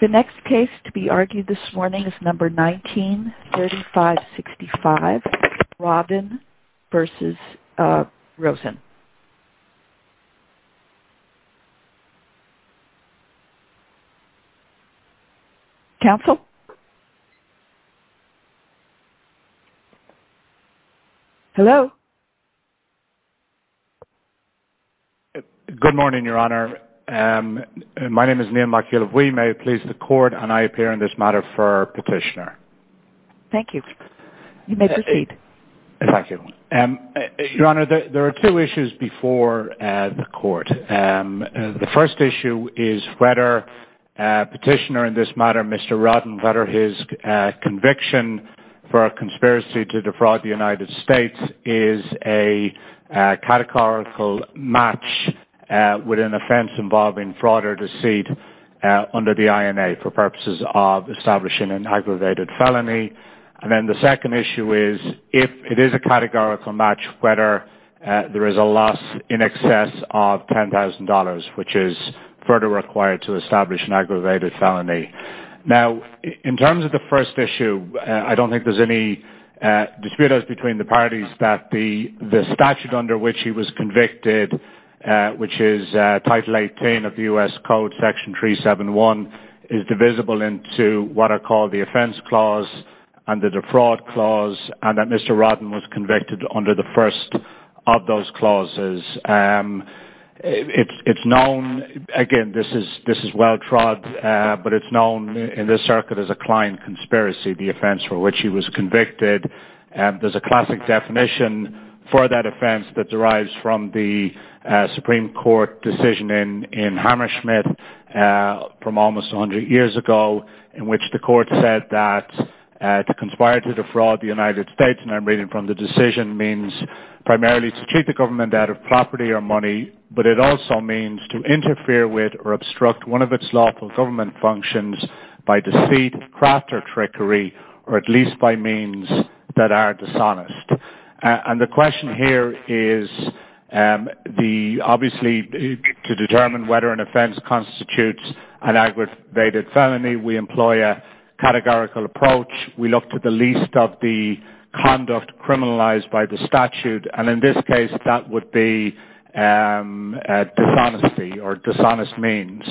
The next case to be argued this morning is number 19-3565, Rodden v. Rosen. Counsel? Hello? Good morning, Your Honor. My name is Neal McElvoy. May it please the Court, and I appear in this matter for petitioner. Thank you. You may proceed. Thank you. Your Honor, there are two issues before the Court. The first issue is whether petitioner in this matter, Mr. Rodden, whether his conviction for a conspiracy to defraud the United States is a categorical match with an offense involving fraud or deceit under the INA for purposes of establishing an aggravated felony. And then the second issue is if it is a categorical match, whether there is a loss in excess of $10,000, which is further required to establish an aggravated felony. Now, in terms of the first issue, I don't think there's any dispute between the parties that the statute under which he was convicted, which is Title 18 of the U.S. Code, Section 371, is divisible into what are called the offense clause and the defraud clause, and that Mr. Rodden was convicted under the first of those clauses. It's known, again, this is well-trod, but it's known in this circuit as a client conspiracy, the offense for which he was convicted. There's a classic definition for that offense that derives from the Supreme Court decision in Hammersmith from almost 100 years ago in which the Court said that to conspire to defraud the United States, and I'm reading from the decision, means primarily to cheat the government out of property or money, but it also means to interfere with or obstruct one of its lawful government functions by deceit, craft, or trickery, or at least by means that are dishonest. And the question here is obviously to determine whether an offense constitutes an aggravated felony, we employ a categorical approach. We look to the least of the conduct criminalized by the statute, and in this case, that would be dishonesty or dishonest means.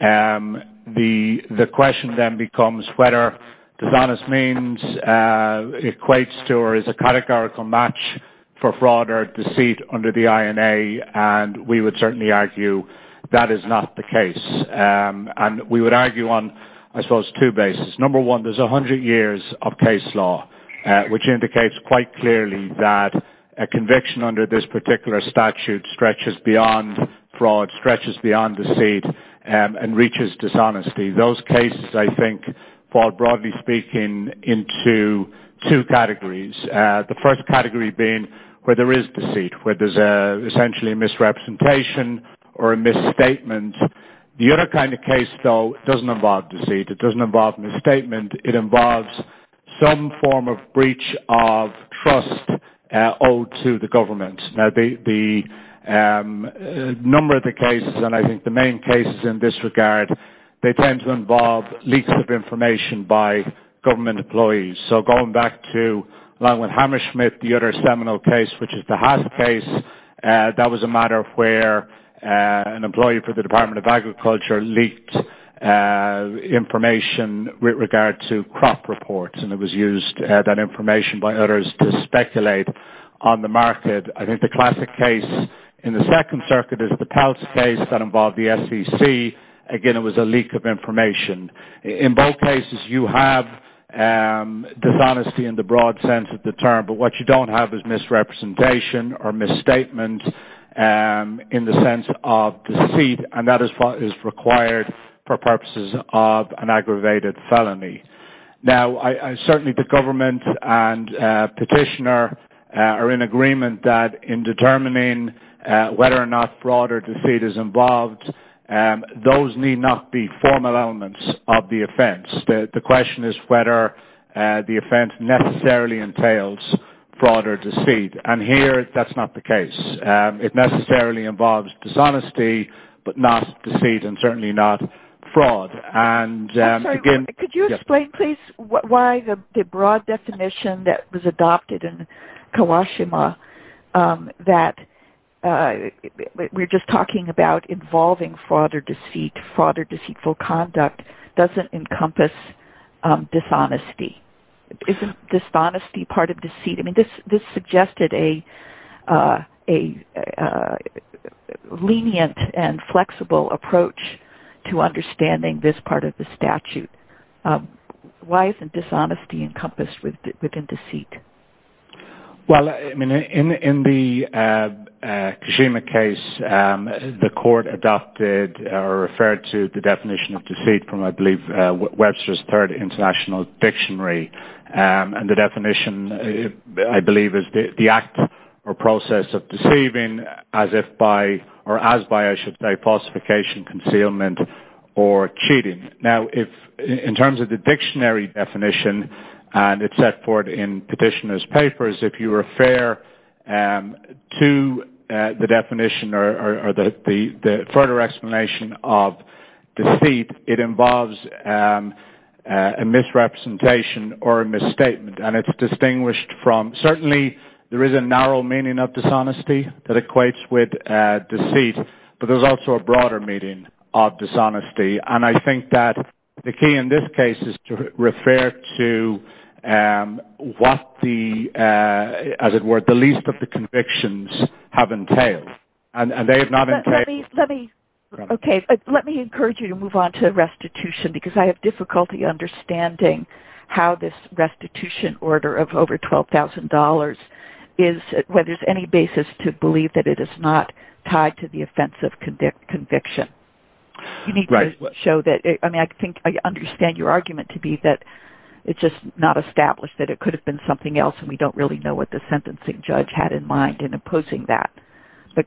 The question then becomes whether dishonest means equates to or is a categorical match for fraud or deceit under the INA, and we would certainly argue that is not the case, and we would argue on, I suppose, two bases. Number one, there's 100 years of case law, which indicates quite clearly that a conviction under this particular statute stretches beyond fraud, stretches beyond deceit, and reaches dishonesty. Those cases, I think, fall broadly speaking into two categories, the first category being where there is deceit, where there's essentially a misrepresentation or a misstatement. The other kind of case, though, doesn't involve deceit. It doesn't involve misstatement. It involves some form of breach of trust owed to the government. Now, the number of the cases, and I think the main cases in this regard, they tend to involve leaks of information by government employees. So going back to Langwood Hammersmith, the other seminal case, which is the Haas case, that was a matter where an employee for the Department of Agriculture leaked information with regard to crop reports, and it was used, that information by others to speculate on the market. I think the classic case in the Second Circuit is the Peltz case that involved the SEC. Again, it was a leak of information. In both cases, you have dishonesty in the broad sense of the term, but what you don't have is misrepresentation or misstatement in the sense of deceit, and that is required for purposes of an aggravated felony. Now, certainly the government and petitioner are in agreement that in determining whether or not fraud or deceit is involved, those need not be formal elements of the offense. The question is whether the offense necessarily entails fraud or deceit, and here that's not the case. It necessarily involves dishonesty, but not deceit and certainly not fraud. Could you explain, please, why the broad definition that was adopted in Kawashima, that we're just talking about involving fraud or deceit, fraud or deceitful conduct, doesn't encompass dishonesty. Isn't dishonesty part of deceit? This suggested a lenient and flexible approach to understanding this part of the statute. Why isn't dishonesty encompassed within deceit? Well, I mean, in the Kashima case, the court adopted or referred to the definition of deceit from, I believe, Webster's Third International Dictionary, and the definition, I believe, is the act or process of deceiving as if by, or as by, I should say, falsification, concealment, or cheating. Now, in terms of the dictionary definition, and it's set forth in petitioner's papers, if you refer to the definition or the further explanation of deceit, it involves a misrepresentation or a misstatement, and it's distinguished from, certainly, there is a narrow meaning of dishonesty that equates with deceit, but there's also a broader meaning of dishonesty, and I think that the key in this case is to refer to what the, as it were, the least of the convictions have entailed. Okay, let me encourage you to move on to restitution, because I have difficulty understanding how this restitution order of over $12,000 is, whether there's any basis to believe that it is not tied to the offense of conviction. You need to show that, I mean, I think, I understand your argument to be that it's just not established that it could have been something else, and we don't really know what the sentencing judge had in mind in opposing that, but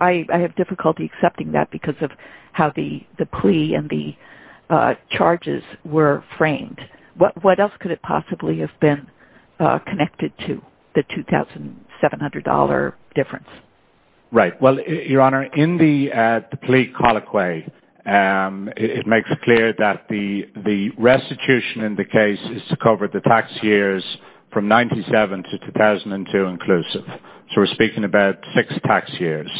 I have difficulty accepting that because of how the plea and the charges were framed. What else could it possibly have been connected to, the $2,700 difference? Right. Well, Your Honor, in the plea colloquy, it makes clear that the restitution in the case is to cover the tax years from 1997 to 2002 inclusive, so we're speaking about six tax years.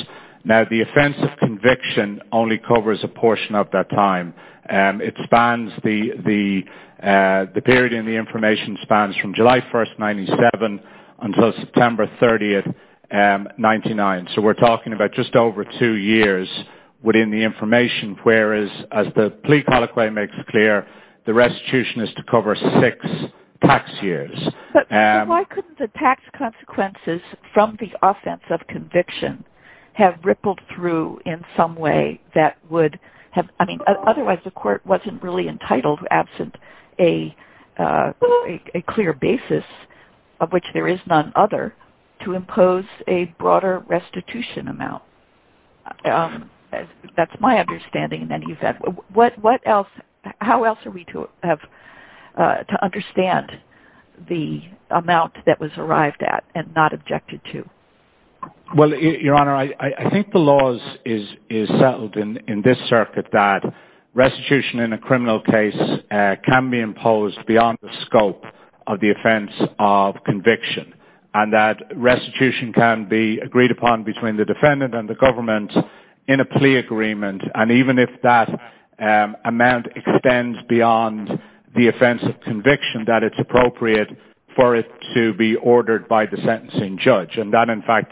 Now, the offense of conviction only covers a portion of that time. It spans, the period in the information spans from July 1, 1997 until September 30, 1999, so we're talking about just over two years within the information, whereas as the plea colloquy makes clear, the restitution is to cover six tax years. But why couldn't the tax consequences from the offense of conviction have rippled through in some way that would have, I mean, otherwise the court wasn't really entitled, absent a clear basis of which there is none other, to impose a broader restitution amount. That's my understanding, and then you've got, what else, how else are we to have to understand the amount that was arrived at and not objected to? Well, Your Honor, I think the law is settled in this circuit that restitution in a criminal case can be imposed beyond the scope of the offense of conviction, and that restitution can be agreed upon between the defendant and the government in a plea agreement, and even if that amount extends beyond the offense of conviction, that it's appropriate for it to be ordered by the sentencing judge. I understand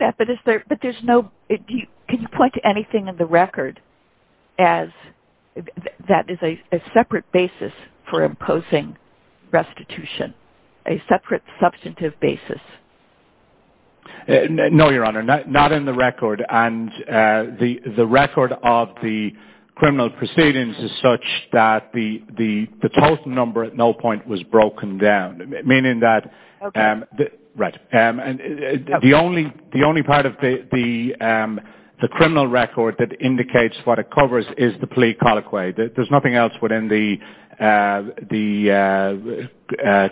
that, but can you point to anything in the record that is a separate basis for imposing restitution, a separate substantive basis? No, Your Honor, not in the record, and the record of the criminal proceedings is such that the total number at no point was broken down, meaning that the only part of the criminal record that indicates what it covers is the plea colloquy. There's nothing else within the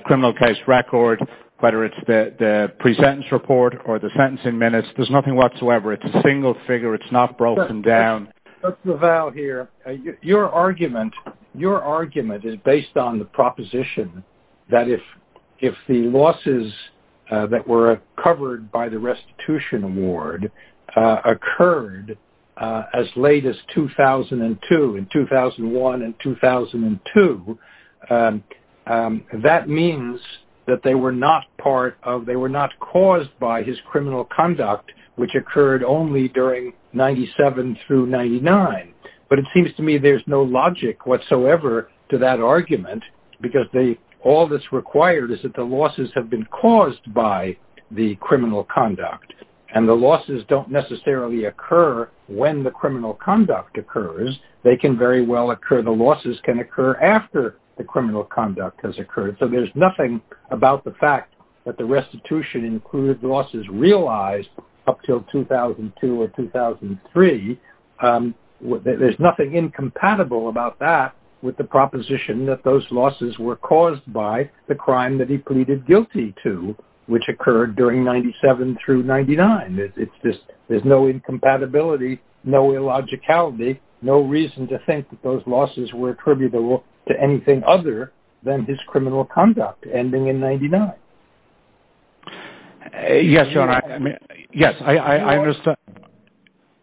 criminal case record, whether it's the presentence report or the sentencing minutes. There's nothing whatsoever. It's a single figure. Judge LaValle here, your argument is based on the proposition that if the losses that were covered by the restitution award occurred as late as 2002, in 2001 and 2002, that means that they were not caused by his criminal conduct, which occurred only during 1997 through 1999. But it seems to me there's no logic whatsoever to that argument because all that's required is that the losses have been caused by the criminal conduct, and the losses don't necessarily occur when the criminal conduct occurs. They can very well occur. The losses can occur after the criminal conduct has occurred, so there's nothing about the fact that the restitution included losses realized up until 2002 or 2003. There's nothing incompatible about that with the proposition that those losses were caused by the crime that he pleaded guilty to, which occurred during 1997 through 1999. There's no incompatibility, no illogicality, no reason to think that those losses were attributable to anything other than his criminal conduct ending in 1999. Yes, I understand.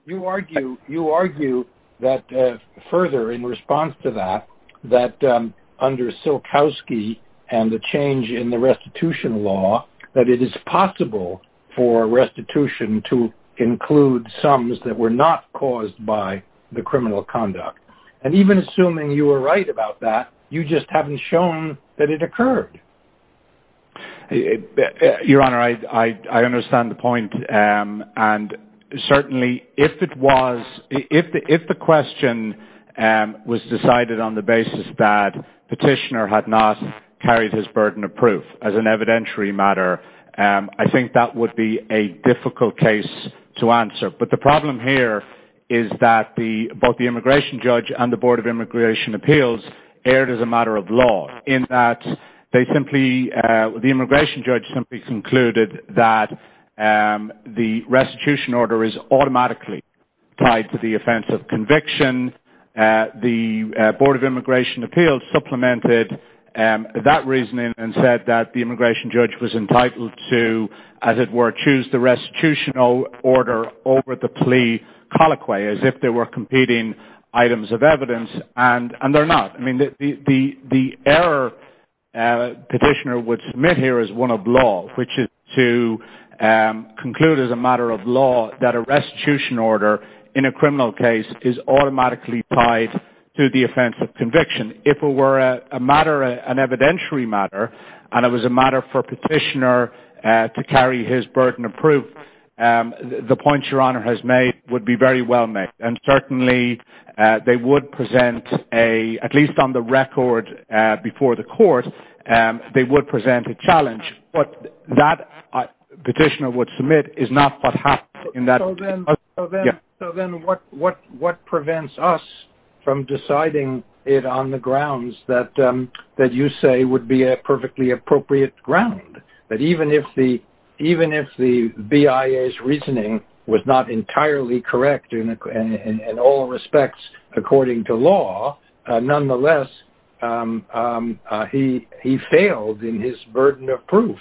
You argue that further in response to that, that under Silkowski and the change in the restitution law, that it is possible for restitution to include sums that were not caused by the criminal conduct. And even assuming you were right about that, you just haven't shown that it occurred. Your Honor, I understand the point, and certainly if the question was decided on the basis that Petitioner had not carried his burden of proof as an evidentiary matter, I think that would be a difficult case to answer. But the problem here is that both the immigration judge and the Board of Immigration Appeals erred as a matter of law in that the immigration judge simply concluded that the restitution order is automatically tied to the offense of conviction. The Board of Immigration Appeals supplemented that reasoning and said that the immigration judge was entitled to, as it were, choose the restitutional order over the plea colloquia, as if they were competing items of evidence, and they're not. The error Petitioner would submit here is one of law, which is to conclude as a matter of law that a restitution order in a criminal case is automatically tied to the offense of conviction. And if it were a matter, an evidentiary matter, and it was a matter for Petitioner to carry his burden of proof, the point Your Honor has made would be very well made. And certainly they would present a, at least on the record before the Court, they would present a challenge. But that Petitioner would submit is not what happened in that case. So then what prevents us from deciding it on the grounds that you say would be a perfectly appropriate ground? That even if the BIA's reasoning was not entirely correct in all respects according to law, nonetheless, he failed in his burden of proof.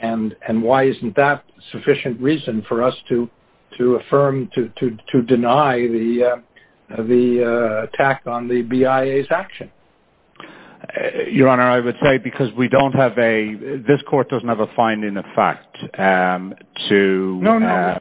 And why isn't that sufficient reason for us to affirm, to deny the attack on the BIA's action? Your Honor, I would say because we don't have a, this Court doesn't have a finding of fact to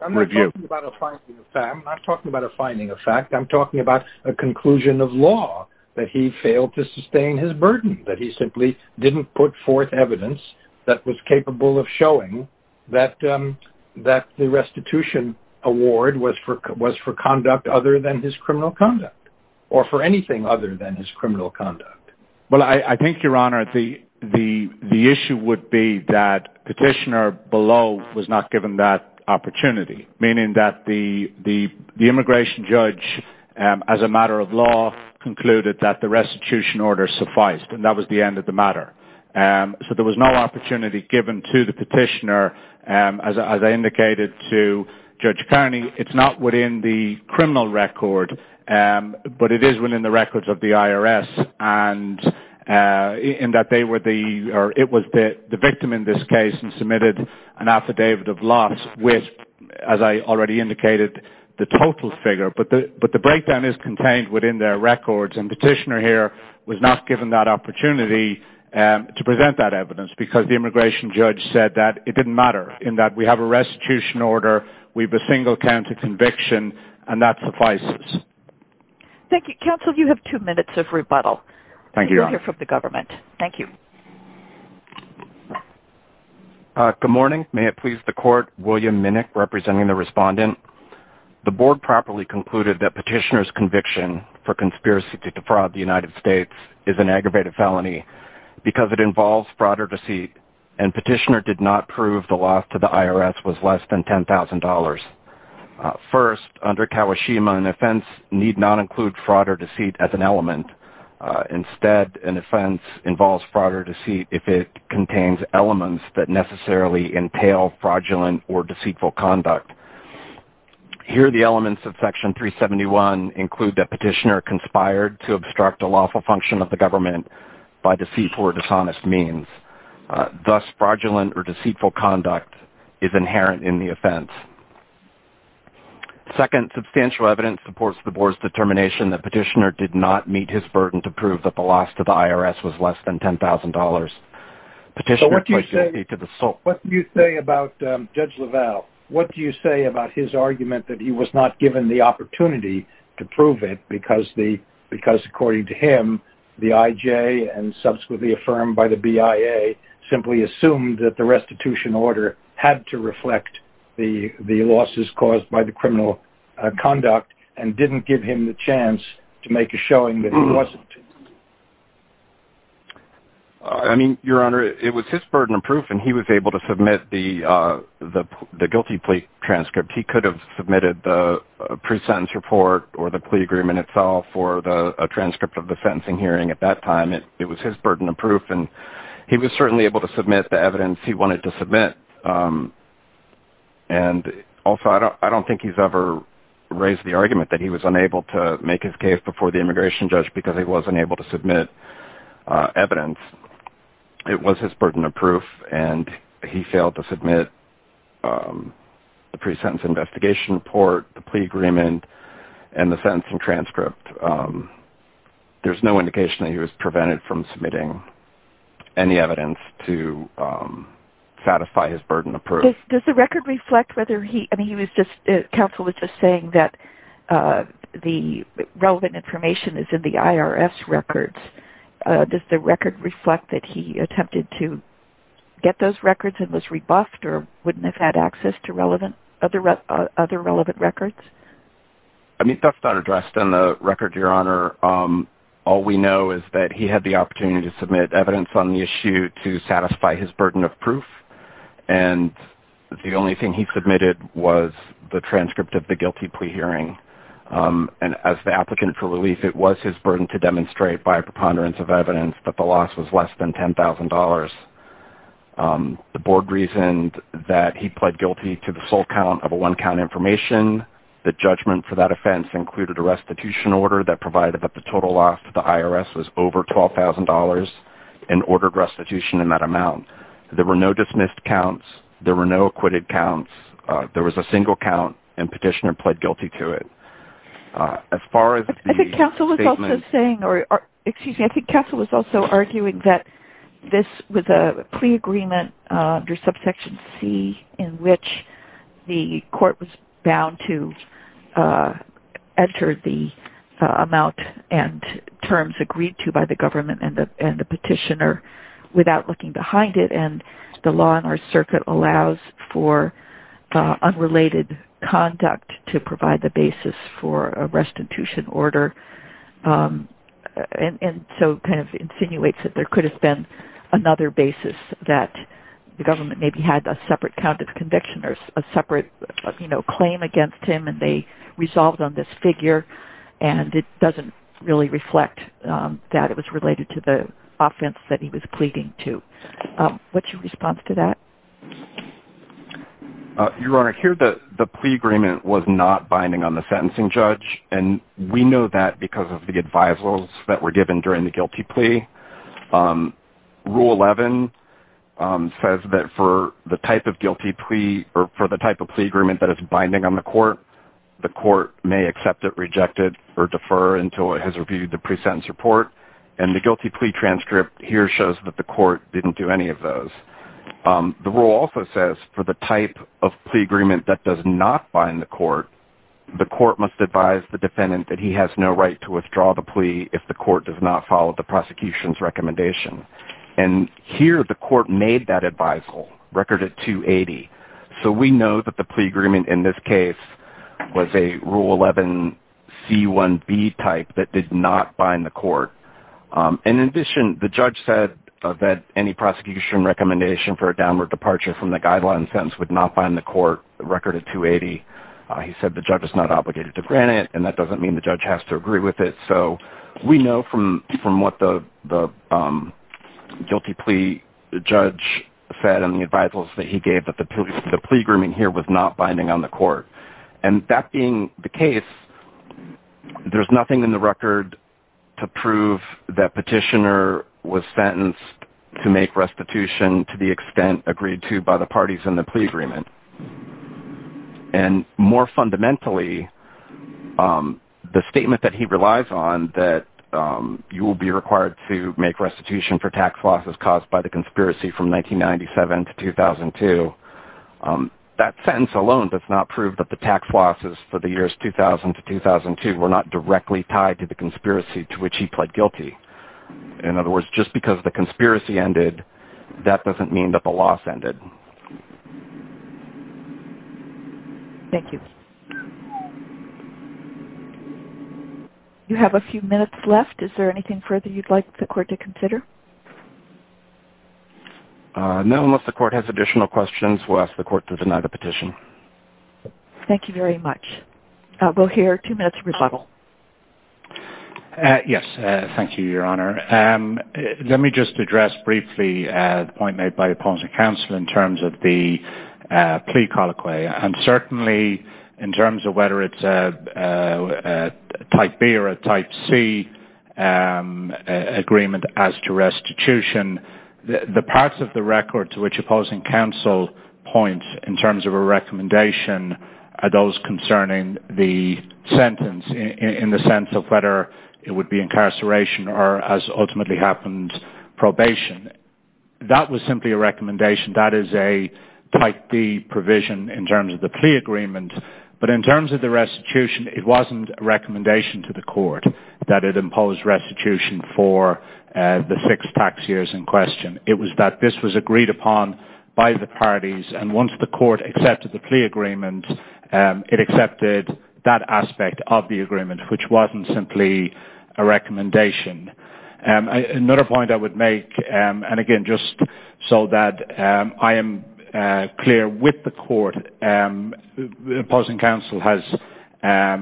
review. I'm not talking about a finding of fact. I'm talking about a conclusion of law that he failed to sustain his burden. That he simply didn't put forth evidence that was capable of showing that the restitution award was for conduct other than his criminal conduct. Or for anything other than his criminal conduct. Well, I think, Your Honor, the issue would be that Petitioner below was not given that opportunity. Meaning that the immigration judge, as a matter of law, concluded that the restitution order sufficed. And that was the end of the matter. So there was no opportunity given to the Petitioner, as I indicated to Judge Kearney. It's not within the criminal record, but it is within the records of the IRS. And in that they were the, or it was the victim in this case who submitted an affidavit of loss with, as I already indicated, the total figure. But the breakdown is contained within their records. And Petitioner here was not given that opportunity to present that evidence. Because the immigration judge said that it didn't matter. In that we have a restitution order. We have a single-counted conviction. And that suffices. Thank you. Counsel, you have two minutes of rebuttal. Thank you, Your Honor. From the government. Thank you. Good morning. May it please the Court. William Minnick, representing the Respondent. The Board properly concluded that Petitioner's conviction for conspiracy to defraud the United States is an aggravated felony. Because it involves fraud or deceit. And Petitioner did not prove the loss to the IRS was less than $10,000. First, under Kawashima, an offense need not include fraud or deceit as an element. Instead, an offense involves fraud or deceit if it contains elements that necessarily entail fraudulent or deceitful conduct. Here the elements of Section 371 include that Petitioner conspired to obstruct a lawful function of the government by deceitful or dishonest means. Thus, fraudulent or deceitful conduct is inherent in the offense. Second, substantial evidence supports the Board's determination that Petitioner did not meet his burden to prove that the loss to the IRS was less than $10,000. Petitioner pled guilty to the sole fault. What do you say about Judge LaValle? What do you say about his argument that he was not given the opportunity to prove it because according to him, the IJ and subsequently affirmed by the BIA simply assumed that the restitution order had to reflect the losses caused by the criminal conduct and didn't give him the chance to make a showing that he wasn't? Your Honor, it was his burden of proof and he was able to submit the guilty plea transcript. He could have submitted the pre-sentence report or the plea agreement itself or a transcript of the sentencing hearing at that time. It was his burden of proof and he was certainly able to submit the evidence he wanted to submit. Also, I don't think he's ever raised the argument that he was unable to make his case before the immigration judge because he wasn't able to submit evidence. It was his burden of proof and he failed to submit the pre-sentence investigation report, the plea agreement, and the sentencing transcript. There's no indication that he was prevented from submitting any evidence to satisfy his burden of proof. Does the record reflect whether he... I mean, counsel was just saying that the relevant information is in the IRS records. Does the record reflect that he attempted to get those records and was rebuffed or wouldn't have had access to other relevant records? I mean, that's not addressed in the record, Your Honor. All we know is that he had the opportunity to submit evidence on the issue to satisfy his burden of proof and the only thing he submitted was the transcript of the guilty plea hearing. And as the applicant for relief, it was his burden to demonstrate by a preponderance of evidence that the loss was less than $10,000. The board reasoned that he pled guilty to the sole count of a one-count information. The judgment for that offense included a restitution order that provided that the total loss to the IRS was over $12,000 and ordered restitution in that amount. There were no dismissed counts. There were no acquitted counts. There was a single count and petitioner pled guilty to it. I think counsel was also arguing that this was a plea agreement under subsection C in which the court was bound to enter the amount and terms agreed to by the government and the petitioner without looking behind it. So, I think that's a good point. And the law in our circuit allows for unrelated conduct to provide the basis for a restitution order. And so, kind of insinuates that there could have been another basis that the government maybe had a separate count of conviction or a separate claim against him and they resolved on this figure. And it doesn't really reflect that it was related to the offense that he was pleading to. What's your response to that? Your Honor, here the plea agreement was not binding on the sentencing judge. And we know that because of the advisals that were given during the guilty plea. Rule 11 says that for the type of guilty plea or for the type of plea agreement that is binding on the court, the court may accept it, reject it, or defer until it has reviewed the pre-sentence report. And the guilty plea transcript here shows that the court didn't do any of those. The rule also says for the type of plea agreement that does not bind the court, the court must advise the defendant that he has no right to withdraw the plea if the court does not follow the prosecution's recommendation. And here the court made that advisal, record at 280. So, we know that the plea agreement in this case was a Rule 11 C1B type that did not bind the court. And in addition, the judge said that any prosecution recommendation for a downward departure from the guideline sentence would not bind the court, record at 280. He said the judge is not obligated to grant it, and that doesn't mean the judge has to agree with it. So, we know from what the guilty plea judge said and the advisals that he gave that the plea agreement here was not binding on the court. And that being the case, there's nothing in the record to prove that Petitioner was sentenced to make restitution to the extent agreed to by the parties in the plea agreement. And more fundamentally, the statement that he relies on, that you will be required to make restitution for tax losses caused by the conspiracy from 1997 to 2002, that sentence alone does not prove that the tax losses for the years 2000 to 2002 were not directly tied to the conspiracy to which he pled guilty. In other words, just because the conspiracy ended, that doesn't mean that the loss ended. Thank you. You have a few minutes left. Is there anything further you'd like the court to consider? No. Unless the court has additional questions, we'll ask the court to deny the petition. Thank you very much. We'll hear two minutes of rebuttal. Yes. Thank you, Your Honor. Let me just address briefly the point made by opposing counsel in terms of the plea colloquy. And certainly, in terms of whether it's a Type B or a Type C agreement as to restitution, the parts of the record to which opposing counsel points in terms of a recommendation are those concerning the sentence in the sense of whether it would be incarceration or, as ultimately happened, probation. That was simply a recommendation. That is a Type D provision in terms of the plea agreement. But in terms of the restitution, it wasn't a recommendation to the court that it imposed restitution for the six tax years in question. It was that this was agreed upon by the parties. And once the court accepted the plea agreement, it accepted that aspect of the agreement, which wasn't simply a recommendation. Another point I would make, and again, just so that I am clear with the court, opposing counsel has, I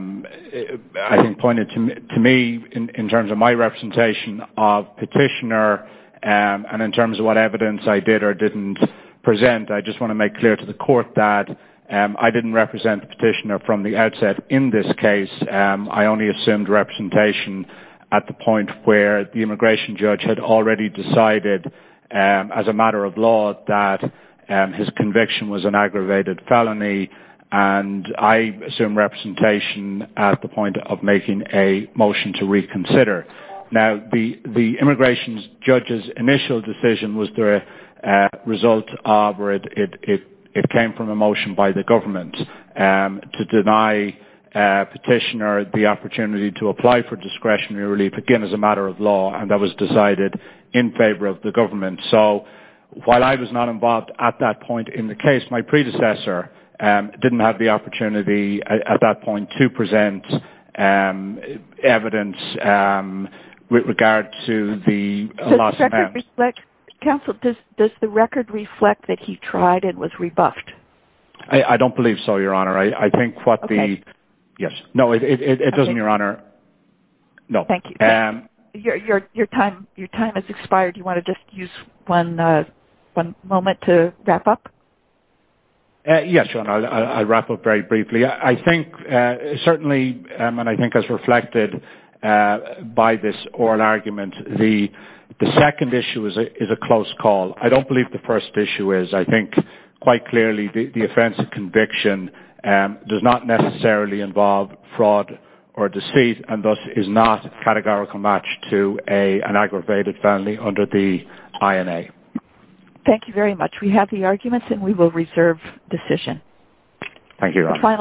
think, pointed to me in terms of my representation of petitioner and in terms of what evidence I did or didn't present. I just want to make clear to the court that I didn't represent the petitioner from the outset in this case. I only assumed representation at the point where the immigration judge had already decided as a matter of law that his conviction was an aggravated felony. And I assumed representation at the point of making a motion to reconsider. Now, the immigration judge's initial decision was the result of or it came from a motion by the government to deny petitioner the opportunity to apply for discretionary relief, again, as a matter of law. And that was decided in favor of the government. So, while I was not involved at that point in the case, my predecessor didn't have the opportunity at that point to present evidence with regard to the last amendment. Counsel, does the record reflect that he tried and was rebuffed? I don't believe so, Your Honor. I think what the... Okay. Yes. No, it doesn't, Your Honor. Okay. No. Thank you. Your time has expired. Do you want to just use one moment to wrap up? Yes, Your Honor. I'll wrap up very briefly. Certainly, and I think as reflected by this oral argument, the second issue is a close call. I don't believe the first issue is. I think, quite clearly, the offense of conviction does not necessarily involve fraud or deceit and thus is not categorical match to an aggravated felony under the INA. Thank you very much. We have the arguments and we will reserve decision. Thank you, Your Honor.